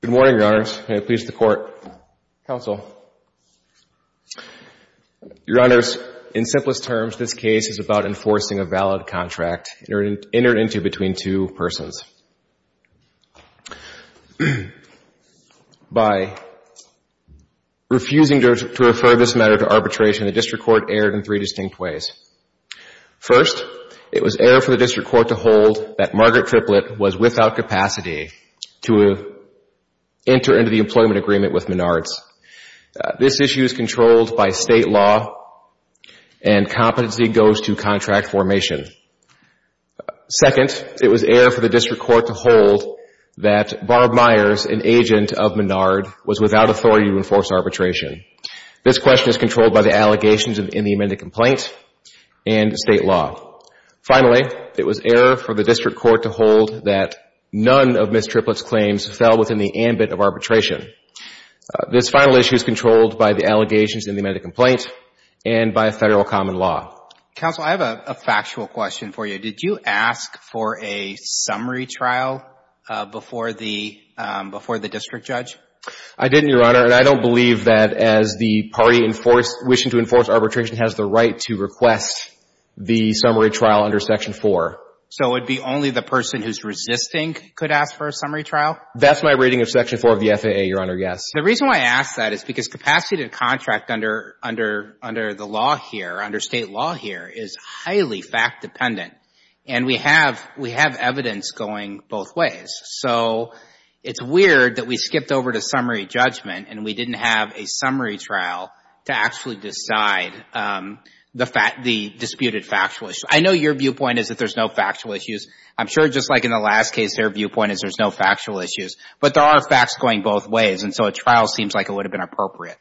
Good morning, Your Honors. May it please the Court, Counsel. Your Honors, in simplest terms, this case is about enforcing a valid contract entered into between two persons. By refusing to refer this matter to arbitration, the District Court erred in three distinct ways. First, it was error for the District Court to hold that Margaret Triplet was without capacity to enter into the employment agreement with Menards. This issue is controlled by State law and competency goes to contract formation. Second, it was error for the District Court to hold that Barb Myers, an agent of Menard, was without authority to enforce arbitration. This question is controlled by the allegations in the amended complaint and State law. Finally, it was error for the District Court to hold that none of Ms. Triplet's claims fell within the ambit of arbitration. This final issue is controlled by the allegations in the amended complaint and by Federal common law. Counsel, I have a factual question for you. Did you ask for a summary trial before the District Judge? I didn't, Your Honor, and I don't believe that as the party wishing to enforce arbitration has the right to request the summary trial under Section 4. So it would be only the person who's resisting could ask for a summary trial? That's my reading of Section 4 of the FAA, Your Honor, yes. The reason why I ask that is because capacity to contract under the law here, under State law here, is highly fact dependent. And we have evidence going both ways. So it's weird that we skipped over to summary judgment and we didn't have a summary trial to actually decide the disputed factual issue. I know your viewpoint is that there's no factual issues. I'm sure just like in the last case, their viewpoint is there's no factual issues. But there are facts going both ways. And so a trial seems like it would have been appropriate.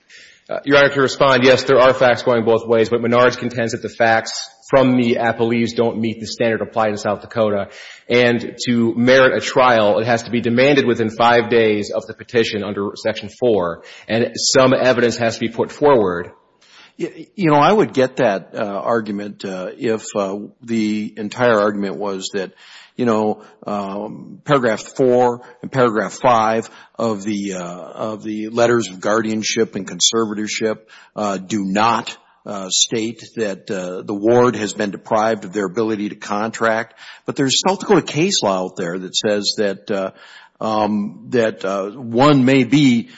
Your Honor, to respond, yes, there are facts going both ways. But Menard contends that the facts from the appellees don't meet the standard applied in South Dakota. And to merit a trial, it has to be demanded within five days of the petition under Section 4. And some evidence has to be put forward. You know, I would get that argument if the entire argument was that, you know, Paragraph 4 and Paragraph 5 of the letters of guardianship and conservatorship do not state that the ward has been deprived of their ability to contract. But there's South Dakota case law out there that says that one may be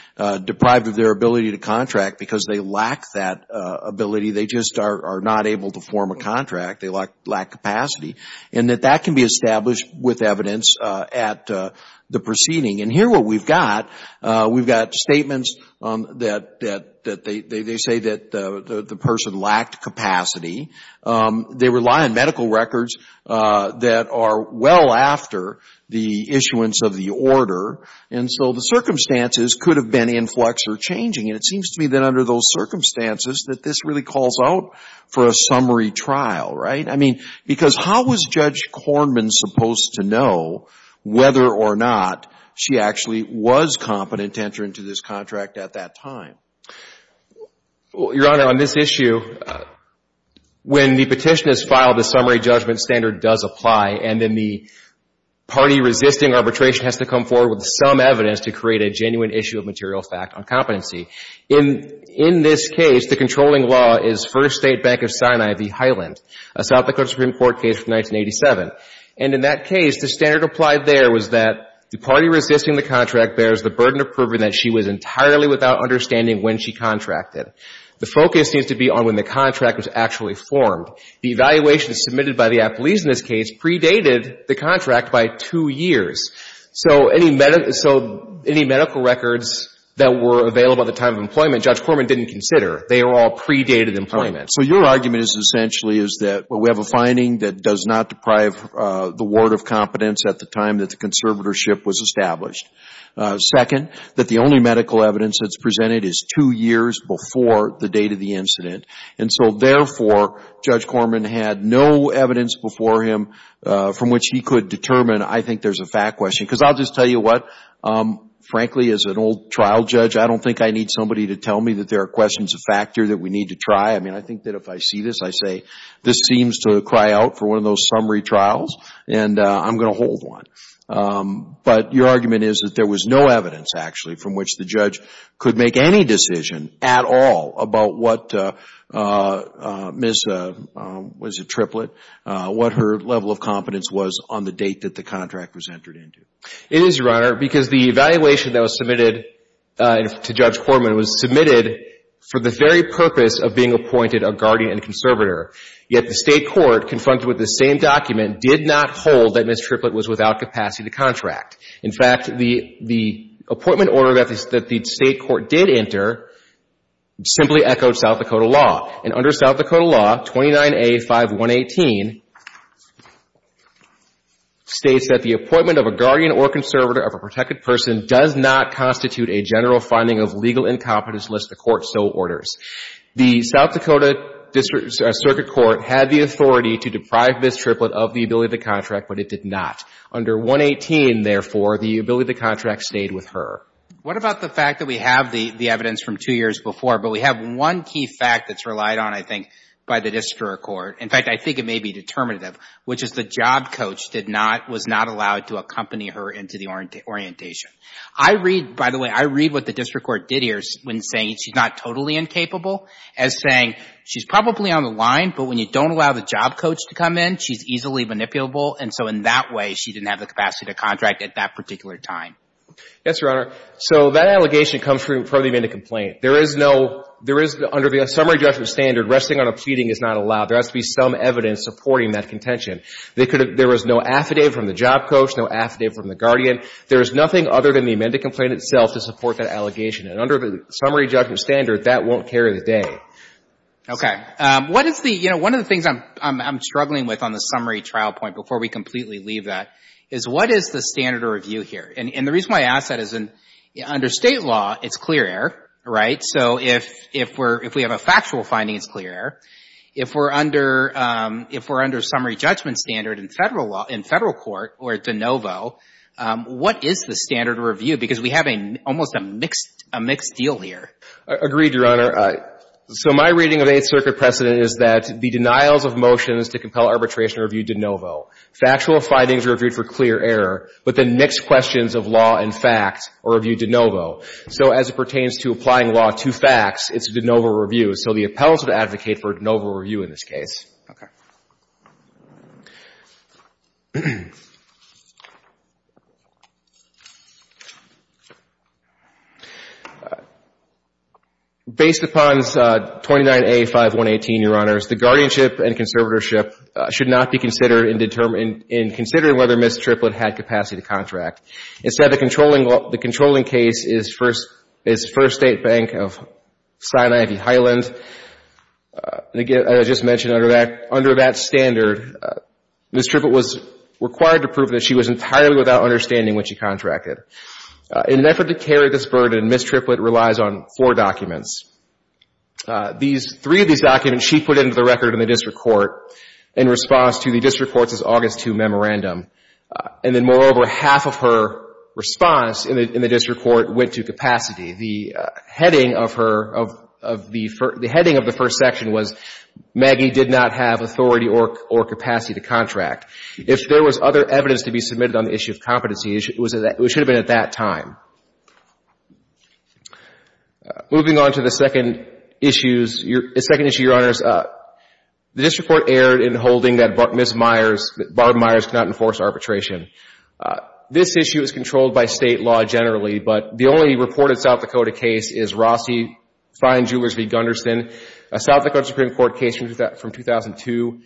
deprived of their ability to contract because they lack that ability. They just are not able to form a contract. They lack capacity. And that that can be established with evidence at the proceeding. And here what we've got, we've got statements that they say that the person lacked capacity. They rely on medical records that are well after the issuance of the order. And so the circumstances could have been influx or changing. And it seems to me that under those circumstances that this really calls out for a summary trial, right? I mean, because how was Judge Kornman supposed to know whether or not she actually was competent to enter into this contract at that time? Your Honor, on this issue, when the petition is filed, the summary judgment standard does apply. And then the party resisting arbitration has to come forward with some evidence to create a genuine issue of material fact on competency. In this case, the controlling law is First State Bank of Sinai v. Highland, a South Dakota Supreme Court case from 1987. And in that case, the standard applied there was that the party resisting the contract bears the burden of proving that she was entirely without understanding when she contracted. The focus needs to be on when the contract was actually formed. The evaluation submitted by the apolis in this case predated the contract by two years. So any medical records that were available at the time of employment, Judge Kornman didn't consider. They are all predated employment. So your argument is essentially is that, well, we have a finding that does not deprive the ward of competence at the time that the conservatorship was established. Second, that the only medical evidence that's presented is two years before the date of the incident. And so therefore, Judge Kornman had no evidence before him from which he could determine, I think there's a fact question. Because I'll just tell you what, frankly, as an old trial judge, I don't think I need somebody to tell me that there are questions of factor that we need to try. I mean, I think that if I see this, I say, this seems to cry out for one of those summary trials, and I'm going to hold one. But your argument is that there was no evidence, actually, from which the judge could make any decision at all about what Ms. Triplett, what her level of competence was on the date that the contract was entered into. It is, Your Honor, because the evaluation that was submitted to Judge Kornman was submitted for the very purpose of being appointed a guardian and conservator. Yet the State Court, confronted with the same document, did not hold that Ms. Triplett was without capacity to contract. In fact, the appointment order that the State Court did enter simply echoed South Dakota law. And under South Dakota law, 29A5118 states that the appointment of a guardian or conservator of a protected person does not constitute a general finding of legal incompetence unless the court so orders. The South Dakota Circuit Court had the authority to deprive Ms. Triplett of the ability to contract, but it did not. Under 118, therefore, the ability to contract stayed with her. What about the fact that we have the evidence from two years before, but we have one key fact that's relied on, I think, by the district court. In fact, I think it may be determinative, which is the job coach was not allowed to accompany her into the orientation. I read, what the district court did here, when saying she's not totally incapable, as saying she's probably on the line, but when you don't allow the job coach to come in, she's easily manipulable. And so in that way, she didn't have the capacity to contract at that particular time. Yes, Your Honor. So that allegation comes from the amended complaint. There is no — there is — under the summary judgment standard, resting on a pleading is not allowed. There has to be some evidence supporting that contention. They could have — there was no affidavit from the job coach, no affidavit from the guardian. There is nothing other than the allegation. And under the summary judgment standard, that won't carry the day. Okay. What is the — you know, one of the things I'm struggling with on the summary trial point, before we completely leave that, is what is the standard of review here? And the reason why I ask that is under State law, it's clear error, right? So if we're — if we have a factual finding, it's clear error. If we're under summary judgment standard in Federal law — in Federal court, or de novo, what is the standard of review? Because we have a — almost a mixed — a mixed deal here. Agreed, Your Honor. So my reading of Eighth Circuit precedent is that the denials of motions to compel arbitration are reviewed de novo. Factual findings are reviewed for clear error, but the mixed questions of law and fact are reviewed de novo. So as it pertains to applying law to facts, it's a de novo review. So the appellants would advocate for a de novo review in this case. Okay. Based upon 29A5118, Your Honors, the guardianship and conservatorship should not be considered in determining — in considering whether Ms. Triplett had capacity to contract. Instead, the controlling case is First State Bank of Sinai v. Highland. Again, as I just mentioned under that — under that standard, Ms. Triplett was required to prove that she was entirely without understanding when she contracted. In an effort to carry this burden, Ms. Triplett relies on four documents. These — three of these documents she put into the record in the district court in response to the district court's August 2 memorandum. And then, moreover, half of her response in the district court went to capacity. The heading of her — of the — the heading of the first section was Maggie did not have authority or capacity to contract. If there was other evidence to be submitted on the issue of competency, it should have been at that time. Moving on to the second issues — the second issue, Your Honors, the district court erred in holding that Ms. Myers — Barb Myers could not enforce arbitration. This issue is controlled by state law generally, but the only reported South Dakota case is Rossi v. Gunderson, a South Dakota Supreme Court case from 2002.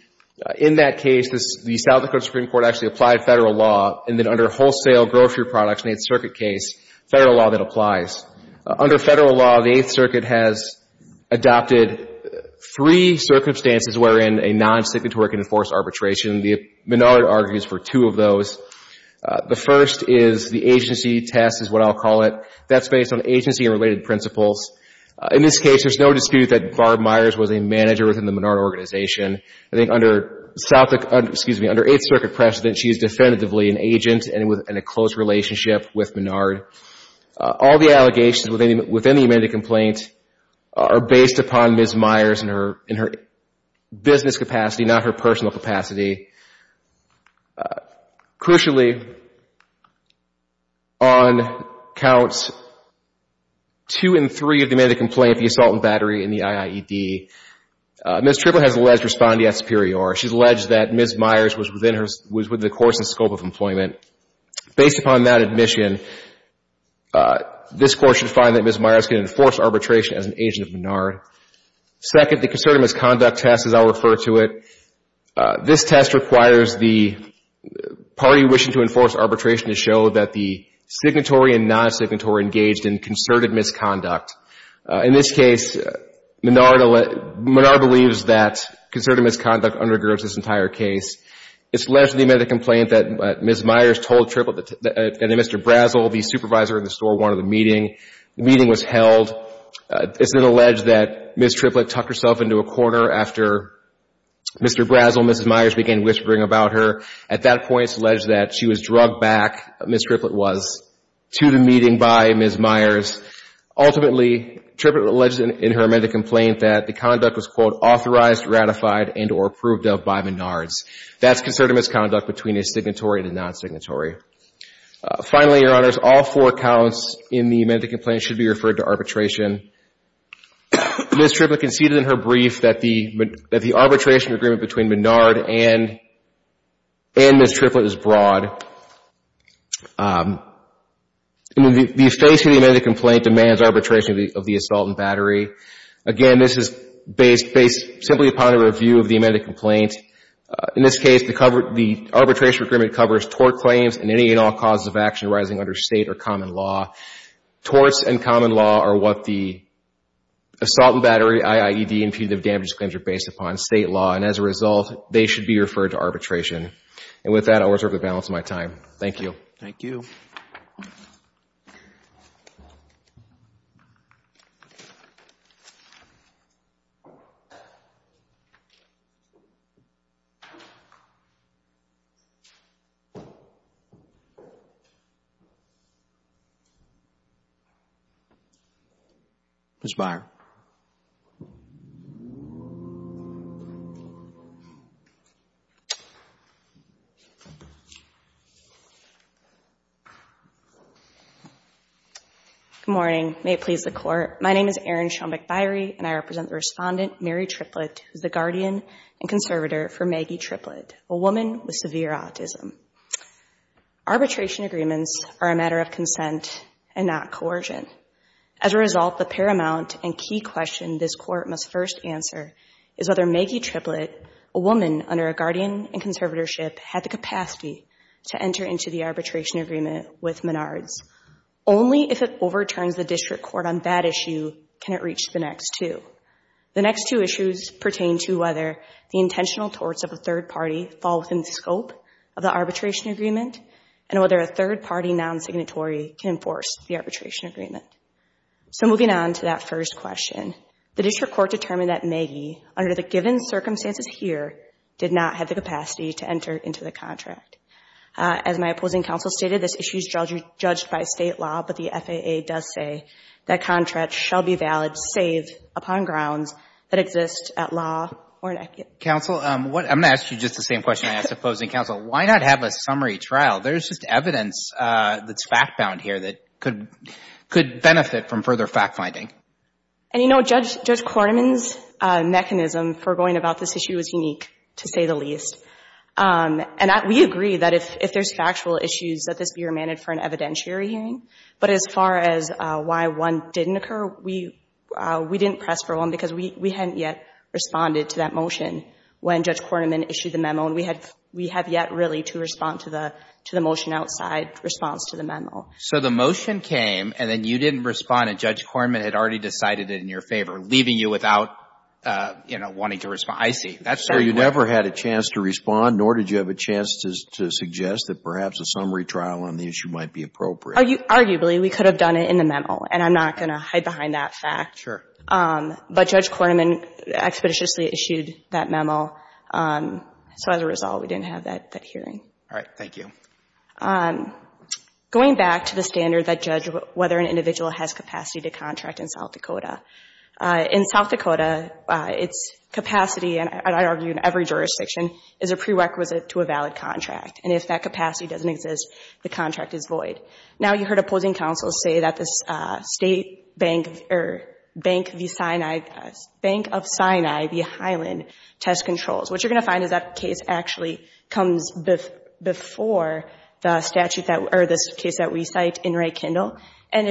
In that case, the South Dakota Supreme Court actually applied federal law. And then under wholesale grocery products in the Eighth Circuit case, federal law that applies. Under federal law, the Eighth Circuit has adopted three circumstances wherein a non-signatory can enforce arbitration. Menard argues for two of those. The first is the agency test is what I'll call it. That's based on agency-related principles. In this case, there's no dispute that Barb Myers was a manager within the Menard organization. I think under — excuse me, under Eighth Circuit precedent, she is definitively an agent and a close relationship with Menard. All the allegations within the amended complaint are based upon Ms. Myers and her business capacity, not her personal capacity. Crucially, on counts two and three of the amended complaint, the assault and battery in the IIED, Ms. Tripple has alleged respondee at superior. She's alleged that Ms. Myers was within her — was within the court's scope of employment. Based upon that admission, this Court should find that Ms. Myers can enforce arbitration as an agent of Menard. Second, the concerted misconduct test, as I'll refer to it. This test requires the party wishing to enforce arbitration to show that the signatory and non-signatory engaged in concerted misconduct. In this case, Menard believes that concerted misconduct undergirds this entire case. It's alleged in the amended complaint that Ms. Myers told Mr. Brazel, the supervisor in the store, one of the meeting. The meeting was held. It's then alleged that Ms. Tripple tucked herself into a corner after Mr. Brazel and Ms. Myers began whispering about her. At that point, it's alleged that she was drugged back, Ms. Tripple was, to the meeting by Ms. Myers. Ultimately, Tripple alleged in her amended complaint that the conduct was, quote, authorized, ratified, and or approved of by Menards. That's concerted misconduct between a signatory and a non-signatory. Finally, Your Honors, all four counts in the amended complaint should be referred to arbitration. Ms. Tripple conceded in her brief that the arbitration agreement between Menard and Ms. Tripple is broad. The face of the amended complaint demands arbitration of the assault and battery. Again, this is based simply upon a review of the amended complaint. In this case, the arbitration agreement covers tort claims and any and all causes of action arising under state or common law. Torts and common law are what the assault and battery, IIED, and punitive damages claims are based upon, state law. As a result, they should be referred to arbitration. With that, I will reserve the balance of my time. Thank you. Thank you. Good morning. May it please the Court. My name is Erin Schaumbach-Byrie, and I represent the respondent, Mary Triplett, who is the guardian and conservator for Maggie Triplett, a woman with severe autism. Arbitration agreements are a matter of consent and not coercion. As a result, the paramount and key question this Court must first answer is whether Maggie Triplett, a woman under a guardian and conservatorship, had the capacity to enter into the arbitration. agreement with Menards. Only if it overturns the district court on that issue can it reach the next two. The next two issues pertain to whether the intentional torts of a third party fall within the scope of the arbitration agreement and whether a third party non-signatory can enforce the arbitration agreement. So moving on to that first question, the district court determined that Maggie, under the given circumstances here, did not have the capacity to enter into the contract. As my opposing counsel stated, this issue is judged by state law, but the FAA does say that contracts shall be valid, saved upon grounds that exist at law or in etiquette. Counsel, I'm going to ask you just the same question I asked opposing counsel. Why not have a summary trial? There's just evidence that's fact-bound here that could benefit from further fact-finding. And, you know, Judge Korneman's mechanism for going about this issue is unique, to say the least. And we agree that if there's factual issues, that this be remanded for an evidentiary hearing. But as far as why one didn't occur, we didn't press for one because we hadn't yet responded to that motion when Judge Korneman issued the memo, and we have yet really to respond to the motion outside response to the memo. So the motion came, and then you didn't respond, and Judge Korneman had already decided it in your favor, leaving you without, you know, wanting to respond. I see. That's where you go. So you didn't have a chance to respond, nor did you have a chance to suggest that perhaps a summary trial on the issue might be appropriate. Arguably, we could have done it in the memo, and I'm not going to hide behind that fact. Sure. But Judge Korneman expeditiously issued that memo. So as a result, we didn't have that hearing. All right. Thank you. Going back to the standard that judged whether an individual has capacity to contract in South Dakota, in South Dakota, its capacity, and I argue in every jurisdiction, is a prerequisite to a valid contract. And if that capacity doesn't exist, the contract is void. Now, you heard opposing counsels say that the state bank or Bank of Sinai, the Highland, test controls. What you're going to find is that case actually comes before the statute that, or this case that we cite in Reykindle. And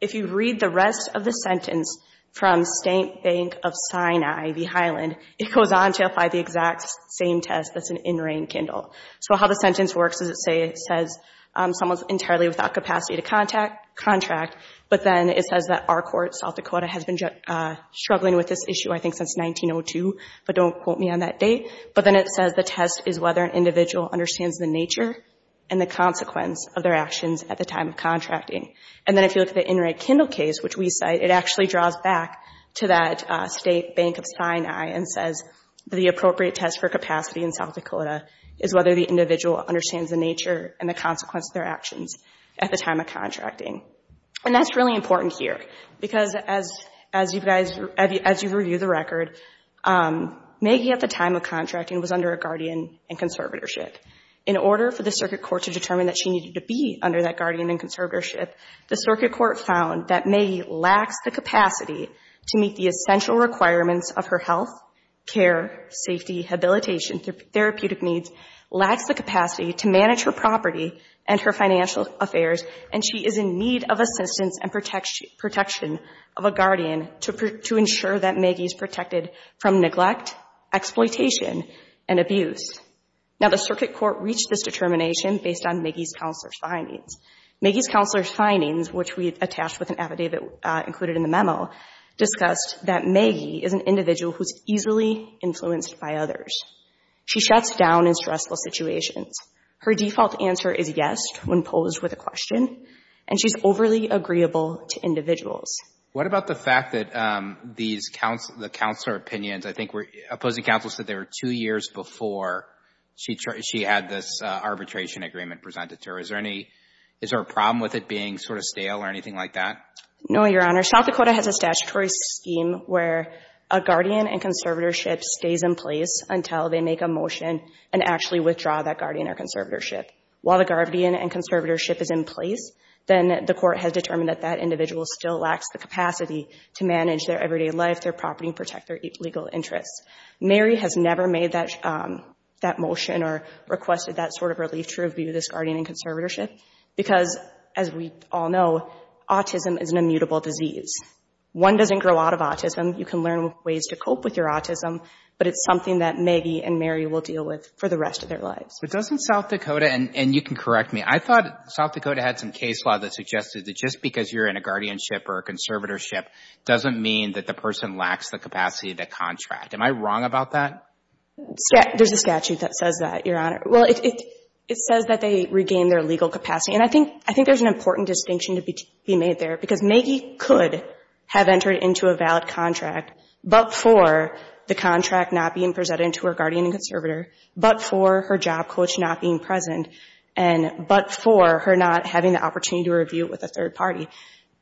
if you read the rest of the sentence from State Bank of Sinai, the Highland, it goes on to the exact same test that's in Reykindle. So how the sentence works is it says someone's entirely without capacity to contract, but then it says that our court, South Dakota, has been struggling with this issue, I think, since 1902, but don't quote me on that date. But then it says the test is whether an individual understands the nature and the consequence of their actions at the time of contracting. And then if you look at the Reykindle case, which we cite, it actually draws back to that State Bank of Sinai and says the appropriate test for capacity in South Dakota is whether the individual understands the nature and the consequence of their actions at the time of contracting. And that's really important here, because as you've reviewed the record, Maggie at the time of contracting was under a guardian and conservatorship. In order for the circuit court to determine that she needed to be under that guardian and conservatorship, the circuit court reached this determination based on Maggie's counselor's findings. Maggie's counselor's findings, which we attached with an affidavit included in the memo, discussed that Maggie is an individual who's easily influenced by others. She shuts down in stressful situations. Her default answer is yes when posed with a question, and she's overly agreeable to individuals. What about the fact that these, the counselor opinions, I think opposing counsel said they were two years before she had this arbitration agreement presented to her. Is there a problem with it being sort of stale or anything like that? No, Your Honor. South Dakota has a statutory scheme where a guardian and conservatorship stays in place until they make a motion and actually withdraw that guardian or conservatorship. While the guardian and conservatorship is in place, then the court has determined that that individual still lacks the capacity to manage their everyday life, their property, protect their legal interests. Mary has never made that motion or requested that sort of relief to review this guardian and conservatorship, because as we all know, autism is an immutable disease. One doesn't grow out of autism. You can learn ways to cope with your autism, but it's something that Maggie and Mary will deal with for the rest of their lives. But doesn't South Dakota, and you can correct me, I thought South Dakota had some case law that suggested that just because you're in a guardianship or a conservatorship doesn't mean that the person lacks the capacity to contract. Am I wrong about that? Yeah, there's a statute that says that, Your Honor. Well, it says that they regain their legal capacity, and I think there's an important distinction to be made there, because Maggie could have entered into a valid contract, but for the contract not being presented to her guardian and conservator, but for her job coach not being present, and but for her not having the opportunity to review with a third party.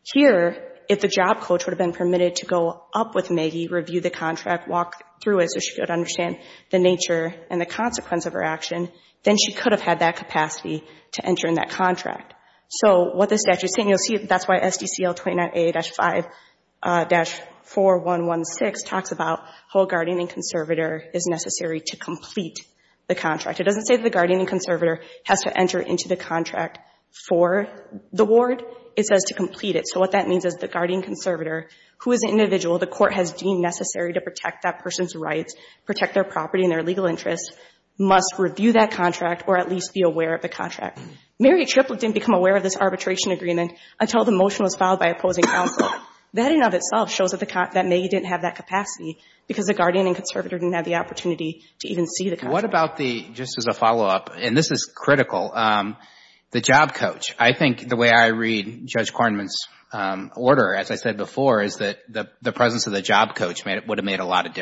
Here, if the job coach would have been permitted to go up with Maggie, review the contract, walk through it so she could understand the nature and the consequence of her action, then she could have had that capacity to enter in that contract. So what the statute's saying, you'll see that's why SDCL 29A-5-4116 talks about how a guardian and conservator is necessary to complete the contract. It doesn't say that the guardian and conservator has to enter into the contract for the ward. It says to complete it. So what that means is the guardian conservator, who is an individual the court has deemed necessary to protect that person's interest, must review that contract or at least be aware of the contract. Mary Triplett didn't become aware of this arbitration agreement until the motion was filed by opposing counsel. That in and of itself shows that Maggie didn't have that capacity, because the guardian and conservator didn't have the opportunity to even see the contract. What about the, just as a follow-up, and this is critical, the job coach. I think the way I read Judge Kornman's order, as I said before, is that the presence of the job coach would have made a lot of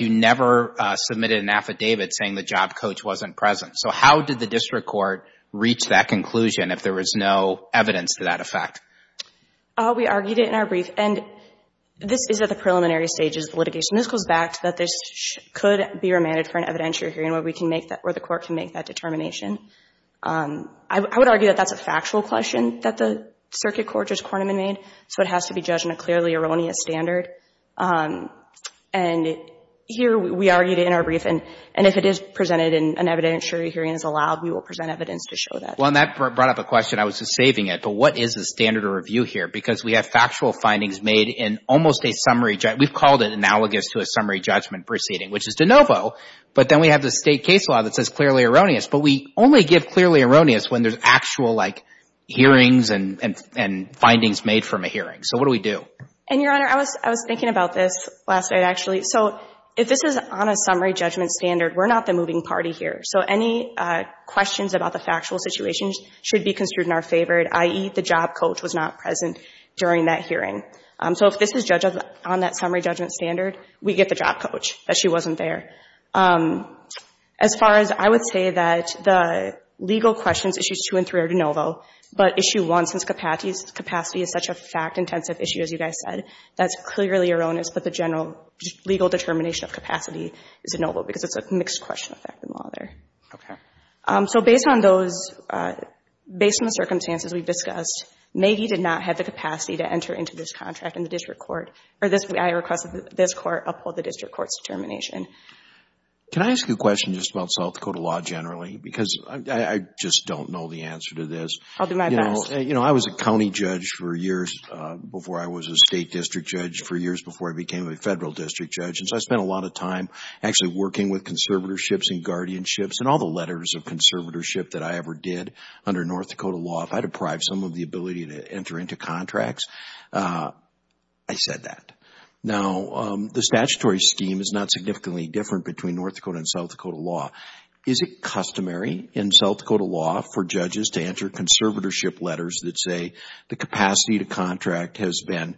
you never submitted an affidavit saying the job coach wasn't present. So how did the district court reach that conclusion if there was no evidence to that effect? We argued it in our brief, and this is at the preliminary stages of litigation. This goes back to that this could be remanded for an evidentiary hearing where we can make that, where the court can make that determination. I would argue that that's a factual question that the circuit court Judge Kornman made, so it has to be here. We argued it in our brief, and if it is presented in an evidentiary hearing as allowed, we will present evidence to show that. Well, and that brought up a question. I was just saving it, but what is the standard of review here? Because we have factual findings made in almost a summary, we've called it analogous to a summary judgment proceeding, which is de novo, but then we have the state case law that says clearly erroneous, but we only give clearly erroneous when there's actual, like, hearings and findings made from a hearing. So what do we do? And, Your Honor, I was thinking about this last night, actually. So if this is on a summary judgment standard, we're not the moving party here. So any questions about the factual situations should be construed in our favor, i.e., the job coach was not present during that hearing. So if this is judged on that summary judgment standard, we get the job coach, that she wasn't there. As far as I would say that the legal questions, issues two and three are de novo, but issue one, since capacity is such a fact-intensive issue, as you guys said, that's clearly erroneous, but the general legal determination of capacity is de novo, because it's a mixed question of fact and law there. Okay. So based on those, based on the circumstances we've discussed, Maggie did not have the capacity to enter into this contract in the district court, or this, I request that this court uphold the district court's determination. Can I ask you a question just about South Dakota law generally? Because I just don't know the answer. I was a county judge for years before I was a state district judge, for years before I became a federal district judge, and so I spent a lot of time actually working with conservatorships and guardianships and all the letters of conservatorship that I ever did under North Dakota law. If I deprived some of the ability to enter into contracts, I said that. Now, the statutory scheme is not significantly different between North Dakota and South Dakota law. Is it customary in South Dakota law for judges to enter conservatorship letters that say the capacity to contract has been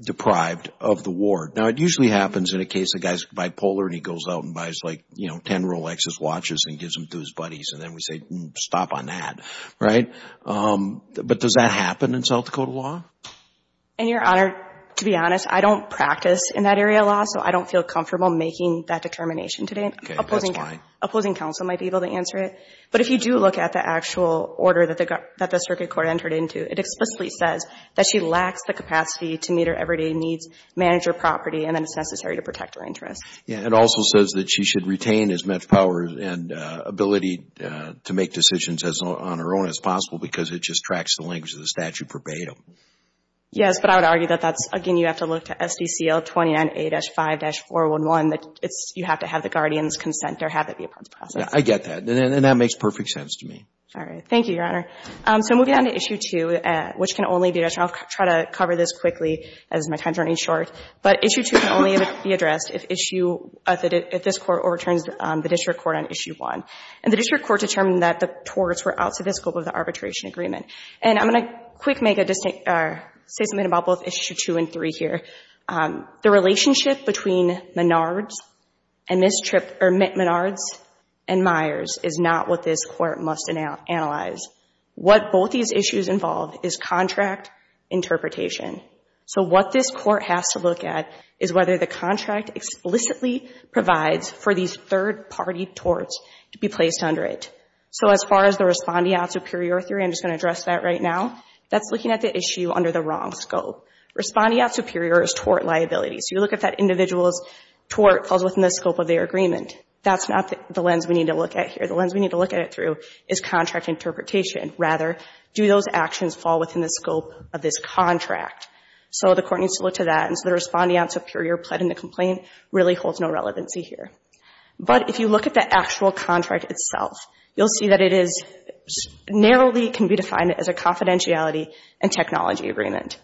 deprived of the ward? Now, it usually happens in a case, a guy's bipolar and he goes out and buys like, you know, ten Rolexes, watches, and gives them to his buddies, and then we say stop on that, right? But does that happen in South Dakota law? And your Honor, to be honest, I don't practice in that area of law, so I don't feel comfortable making that determination today. Opposing counsel might be able to answer it, but if you do look at the actual order that the Circuit Court entered into, it explicitly says that she lacks the capacity to meet her everyday needs, manage her property, and then it's necessary to protect her interests. Yeah, it also says that she should retain as much power and ability to make decisions as on her own as possible because it just tracks the language of the statute verbatim. Yes, but I would argue that that's, again, you have to look to SDCL 29A-5-411, that it's, you have to have the guardians consent or have the guardians consent. Yeah, I get that, and that makes perfect sense to me. All right, thank you, Your Honor. So moving on to Issue 2, which can only be addressed, and I'll try to cover this quickly as my time is running short, but Issue 2 can only be addressed if issue, if this Court overturns the District Court on Issue 1. And the District Court determined that the torts were out of the scope of the arbitration agreement. And I'm going to quick make a distinct, say something about both Issue 2 and 3 here. The relationship between Menard's and Ms. Tripp, or Menard's and Myers is not what this Court must analyze. What both these issues involve is contract interpretation. So what this Court has to look at is whether the contract explicitly provides for these third party torts to be placed under it. So as far as the respondeat superior theory, I'm just going to address that right now, that's looking at the issue under the wrong scope. Respondeat superior is tort liability. So you look at that that's not the lens we need to look at here. The lens we need to look at it through is contract interpretation. Rather, do those actions fall within the scope of this contract? So the Court needs to look to that. And so the respondeat superior pled in the complaint really holds no relevancy here. But if you look at the actual contract itself, you'll see that it is narrowly can be defined as a confidentiality and technology agreement.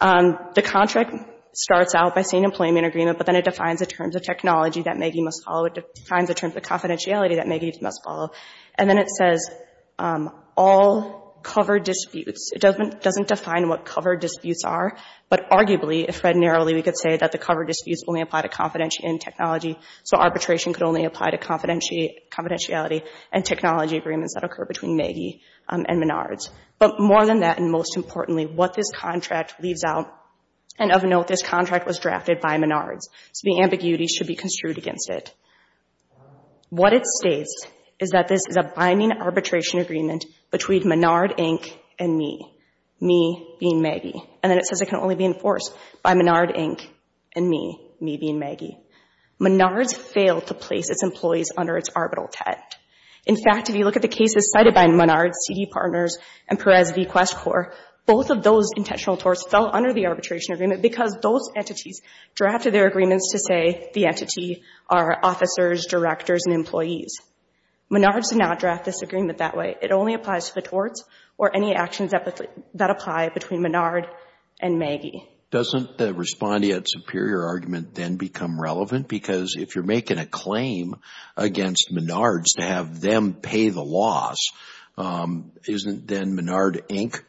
The contract starts out by saying employment agreement, but then it defines the terms of technology that Maggie must follow. It defines the terms of confidentiality that Maggie must follow. And then it says all cover disputes. It doesn't define what cover disputes are, but arguably, if read narrowly, we could say that the cover disputes only apply to confidentiality and technology. So arbitration could only apply to confidentiality and technology agreements that occur between Maggie and Menards. But more than that, and most importantly, what this contract leaves out, and of note, this contract was drafted by Menards. So the ambiguity should be construed against it. What it states is that this is a binding arbitration agreement between Menard, Inc. and me, me being Maggie. And then it says it can only be enforced by Menard, Inc. and me, me being Maggie. Menards failed to place its employees under its arbitral tent. In fact, if you look at the cases cited by Menards, CD Partners, and Perez v. Quest Corp., both of those intentional torts fell under the arbitration agreement because those entities drafted their agreements to say the entity are officers, directors, and employees. Menards did not draft this agreement that way. It only applies to the torts or any actions that apply between Menard and Maggie. Doesn't the respondeat superior argument then become relevant? Because if you're making a claim against Menards to have them pay the loss, isn't then Menard, Inc.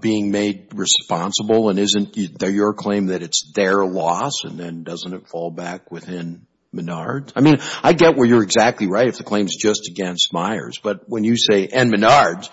being made responsible? And isn't your claim that it's their loss and then doesn't it fall back within Menards? I mean, I get where you're exactly right if the claim is just against Myers. But when you say, and Menards,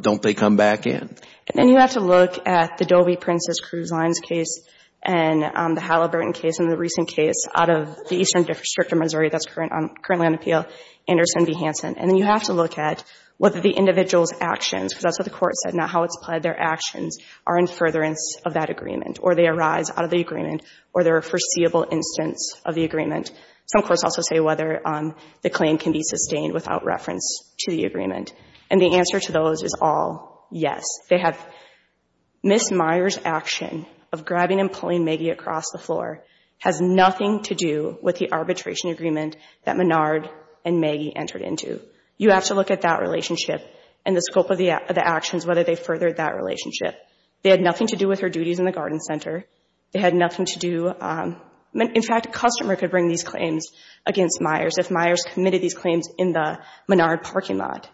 don't they come back in? And then you have to look at the Dolby Princess Cruise Lines case and the Halliburton case and the recent case out of the Eastern District of Missouri that's currently on appeal, Anderson v. Hansen. And then you have to look at whether the individual's actions, because that's what the court said, not how it's applied, their actions are in furtherance of that agreement, or they arise out of the agreement, or they're a foreseeable instance of the agreement. Some courts also say whether the claim can be sustained without reference to the agreement. And the answer to those is all yes. They have Ms. Myers' action of grabbing and pulling Maggie across the floor has nothing to do with the relationship and the scope of the actions, whether they furthered that relationship. They had nothing to do with her duties in the Garden Center. They had nothing to do, in fact, a customer could bring these claims against Myers if Myers committed these claims in the Menard parking lot.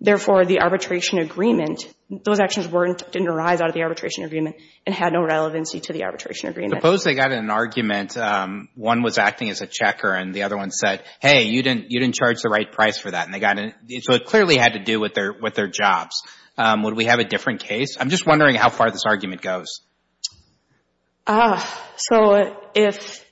Therefore, the arbitration agreement, those actions didn't arise out of the arbitration agreement and had no relevancy to the arbitration agreement. Suppose they got an argument, one was acting as a checker and the other one said, hey, you didn't charge the right price for that, and they got an argument, so it clearly had to do with their jobs. Would we have a different case? I'm just wondering how far this argument goes. So if,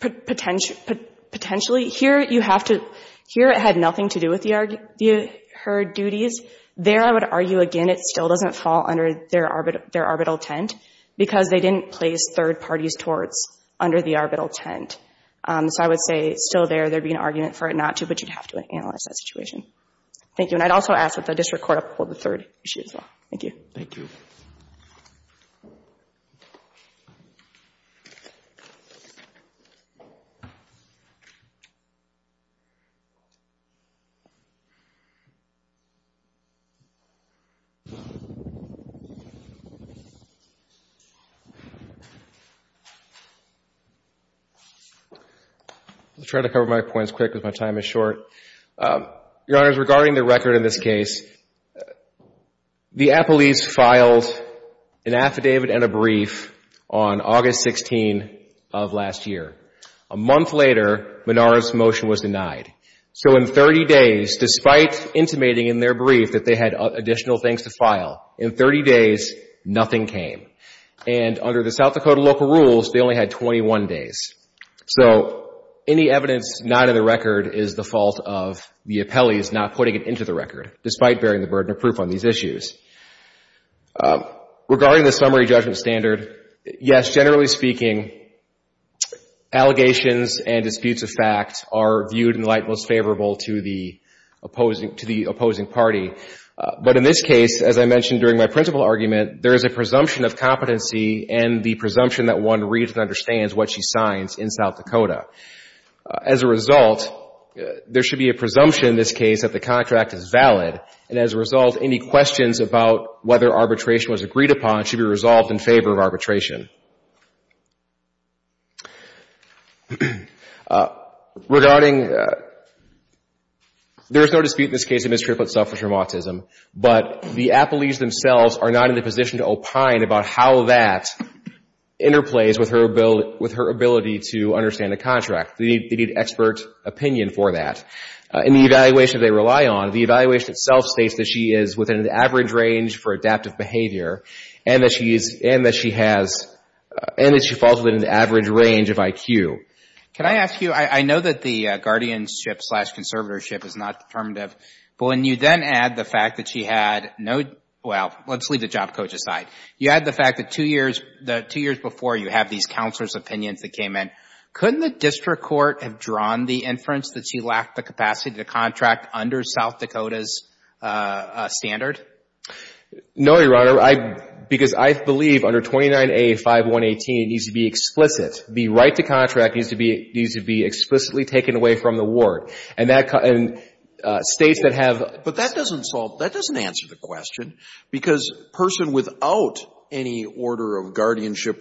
potentially, here you have to, here it had nothing to do with her duties. There I would argue, again, it still doesn't fall under their arbitral tent because they didn't place third parties' torts under the but you'd have to analyze that situation. Thank you. And I'd also ask that the district court uphold the third issue as well. Thank you. Thank you. I'll try to cover my points quick with my time issue. I'll try to keep it short. Your Honors, regarding the record in this case, the Appellees filed an affidavit and a brief on August 16 of last year. A month later, Menard's motion was denied. So in 30 days, despite intimating in their brief that they had additional things to file, in 30 days, nothing came. And under the South Dakota local rules, they only had 21 days. So any evidence not in the record is the fault of the Appellees not putting it into the record, despite bearing the burden of proof on these issues. Regarding the summary judgment standard, yes, generally speaking, allegations and disputes of fact are viewed in light most favorable to the opposing party. But in this case, as I mentioned during my principal argument, there is a presumption of competency and the presumption that one reads and understands what she signs in South Dakota. As a result, there should be a presumption in this case that the contract is valid, and as a result, any questions about whether arbitration was agreed upon should be resolved in favor of arbitration. Regarding, there is no dispute in this case of Ms. Triplett's suffrage from autism, but the Appellees themselves are not in the position to opine about how that interplays with her ability to understand the contract. They need expert opinion for that. In the evaluation they rely on, the evaluation itself states that she is within an average range for adaptive behavior and that she falls within an average range of IQ. Can I ask you, I know that the guardianship slash conservatorship is not determinative, but when you then add the fact that she had no, well, let's leave the job coach aside. You add the fact that two years before, you have these counselor's opinions that came in. Couldn't the district court have drawn the inference that she lacked the capacity to contract under South Dakota's standard? No, Your Honor, because I believe under 29A5118, it needs to be explicit. The right to contract needs to be explicitly taken away from the ward, and states that have. But that doesn't solve, that doesn't answer the question of whether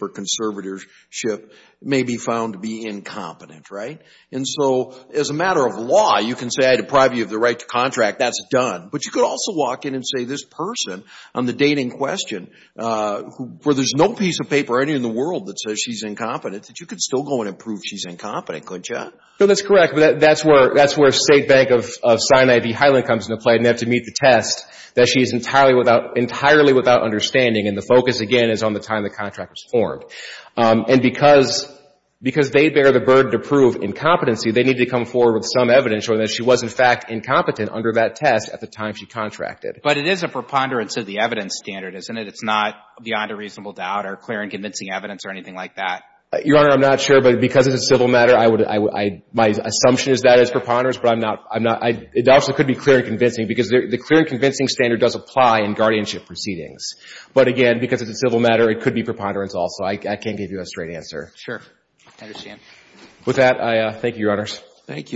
conservatorship may be found to be incompetent, right? And so as a matter of law, you can say I deprive you of the right to contract, that's done. But you could also walk in and say this person on the date in question, where there's no piece of paper in the world that says she's incompetent, that you could still go in and prove she's incompetent, couldn't you? No, that's correct, but that's where State Bank of Sinai v. Highland comes into play and they have to meet the test that she is entirely without, entirely without understanding And the focus, again, is on the time the contract was formed. And because they bear the burden to prove incompetency, they need to come forward with some evidence showing that she was, in fact, incompetent under that test at the time she contracted. But it is a preponderance of the evidence standard, isn't it? It's not beyond a reasonable doubt or clear and convincing evidence or anything like that? Your Honor, I'm not sure, but because it's a civil matter, I would, I would, my assumption is that it's preponderance, but I'm not, I'm not, it also could be clear and convincing, because the clear and convincing standard does apply in guardianship proceedings. But again, because it's a civil matter, it could be preponderance also. I, I can't give you a straight answer. Sure. I understand. With that, I thank you, Your Honors. Thank you.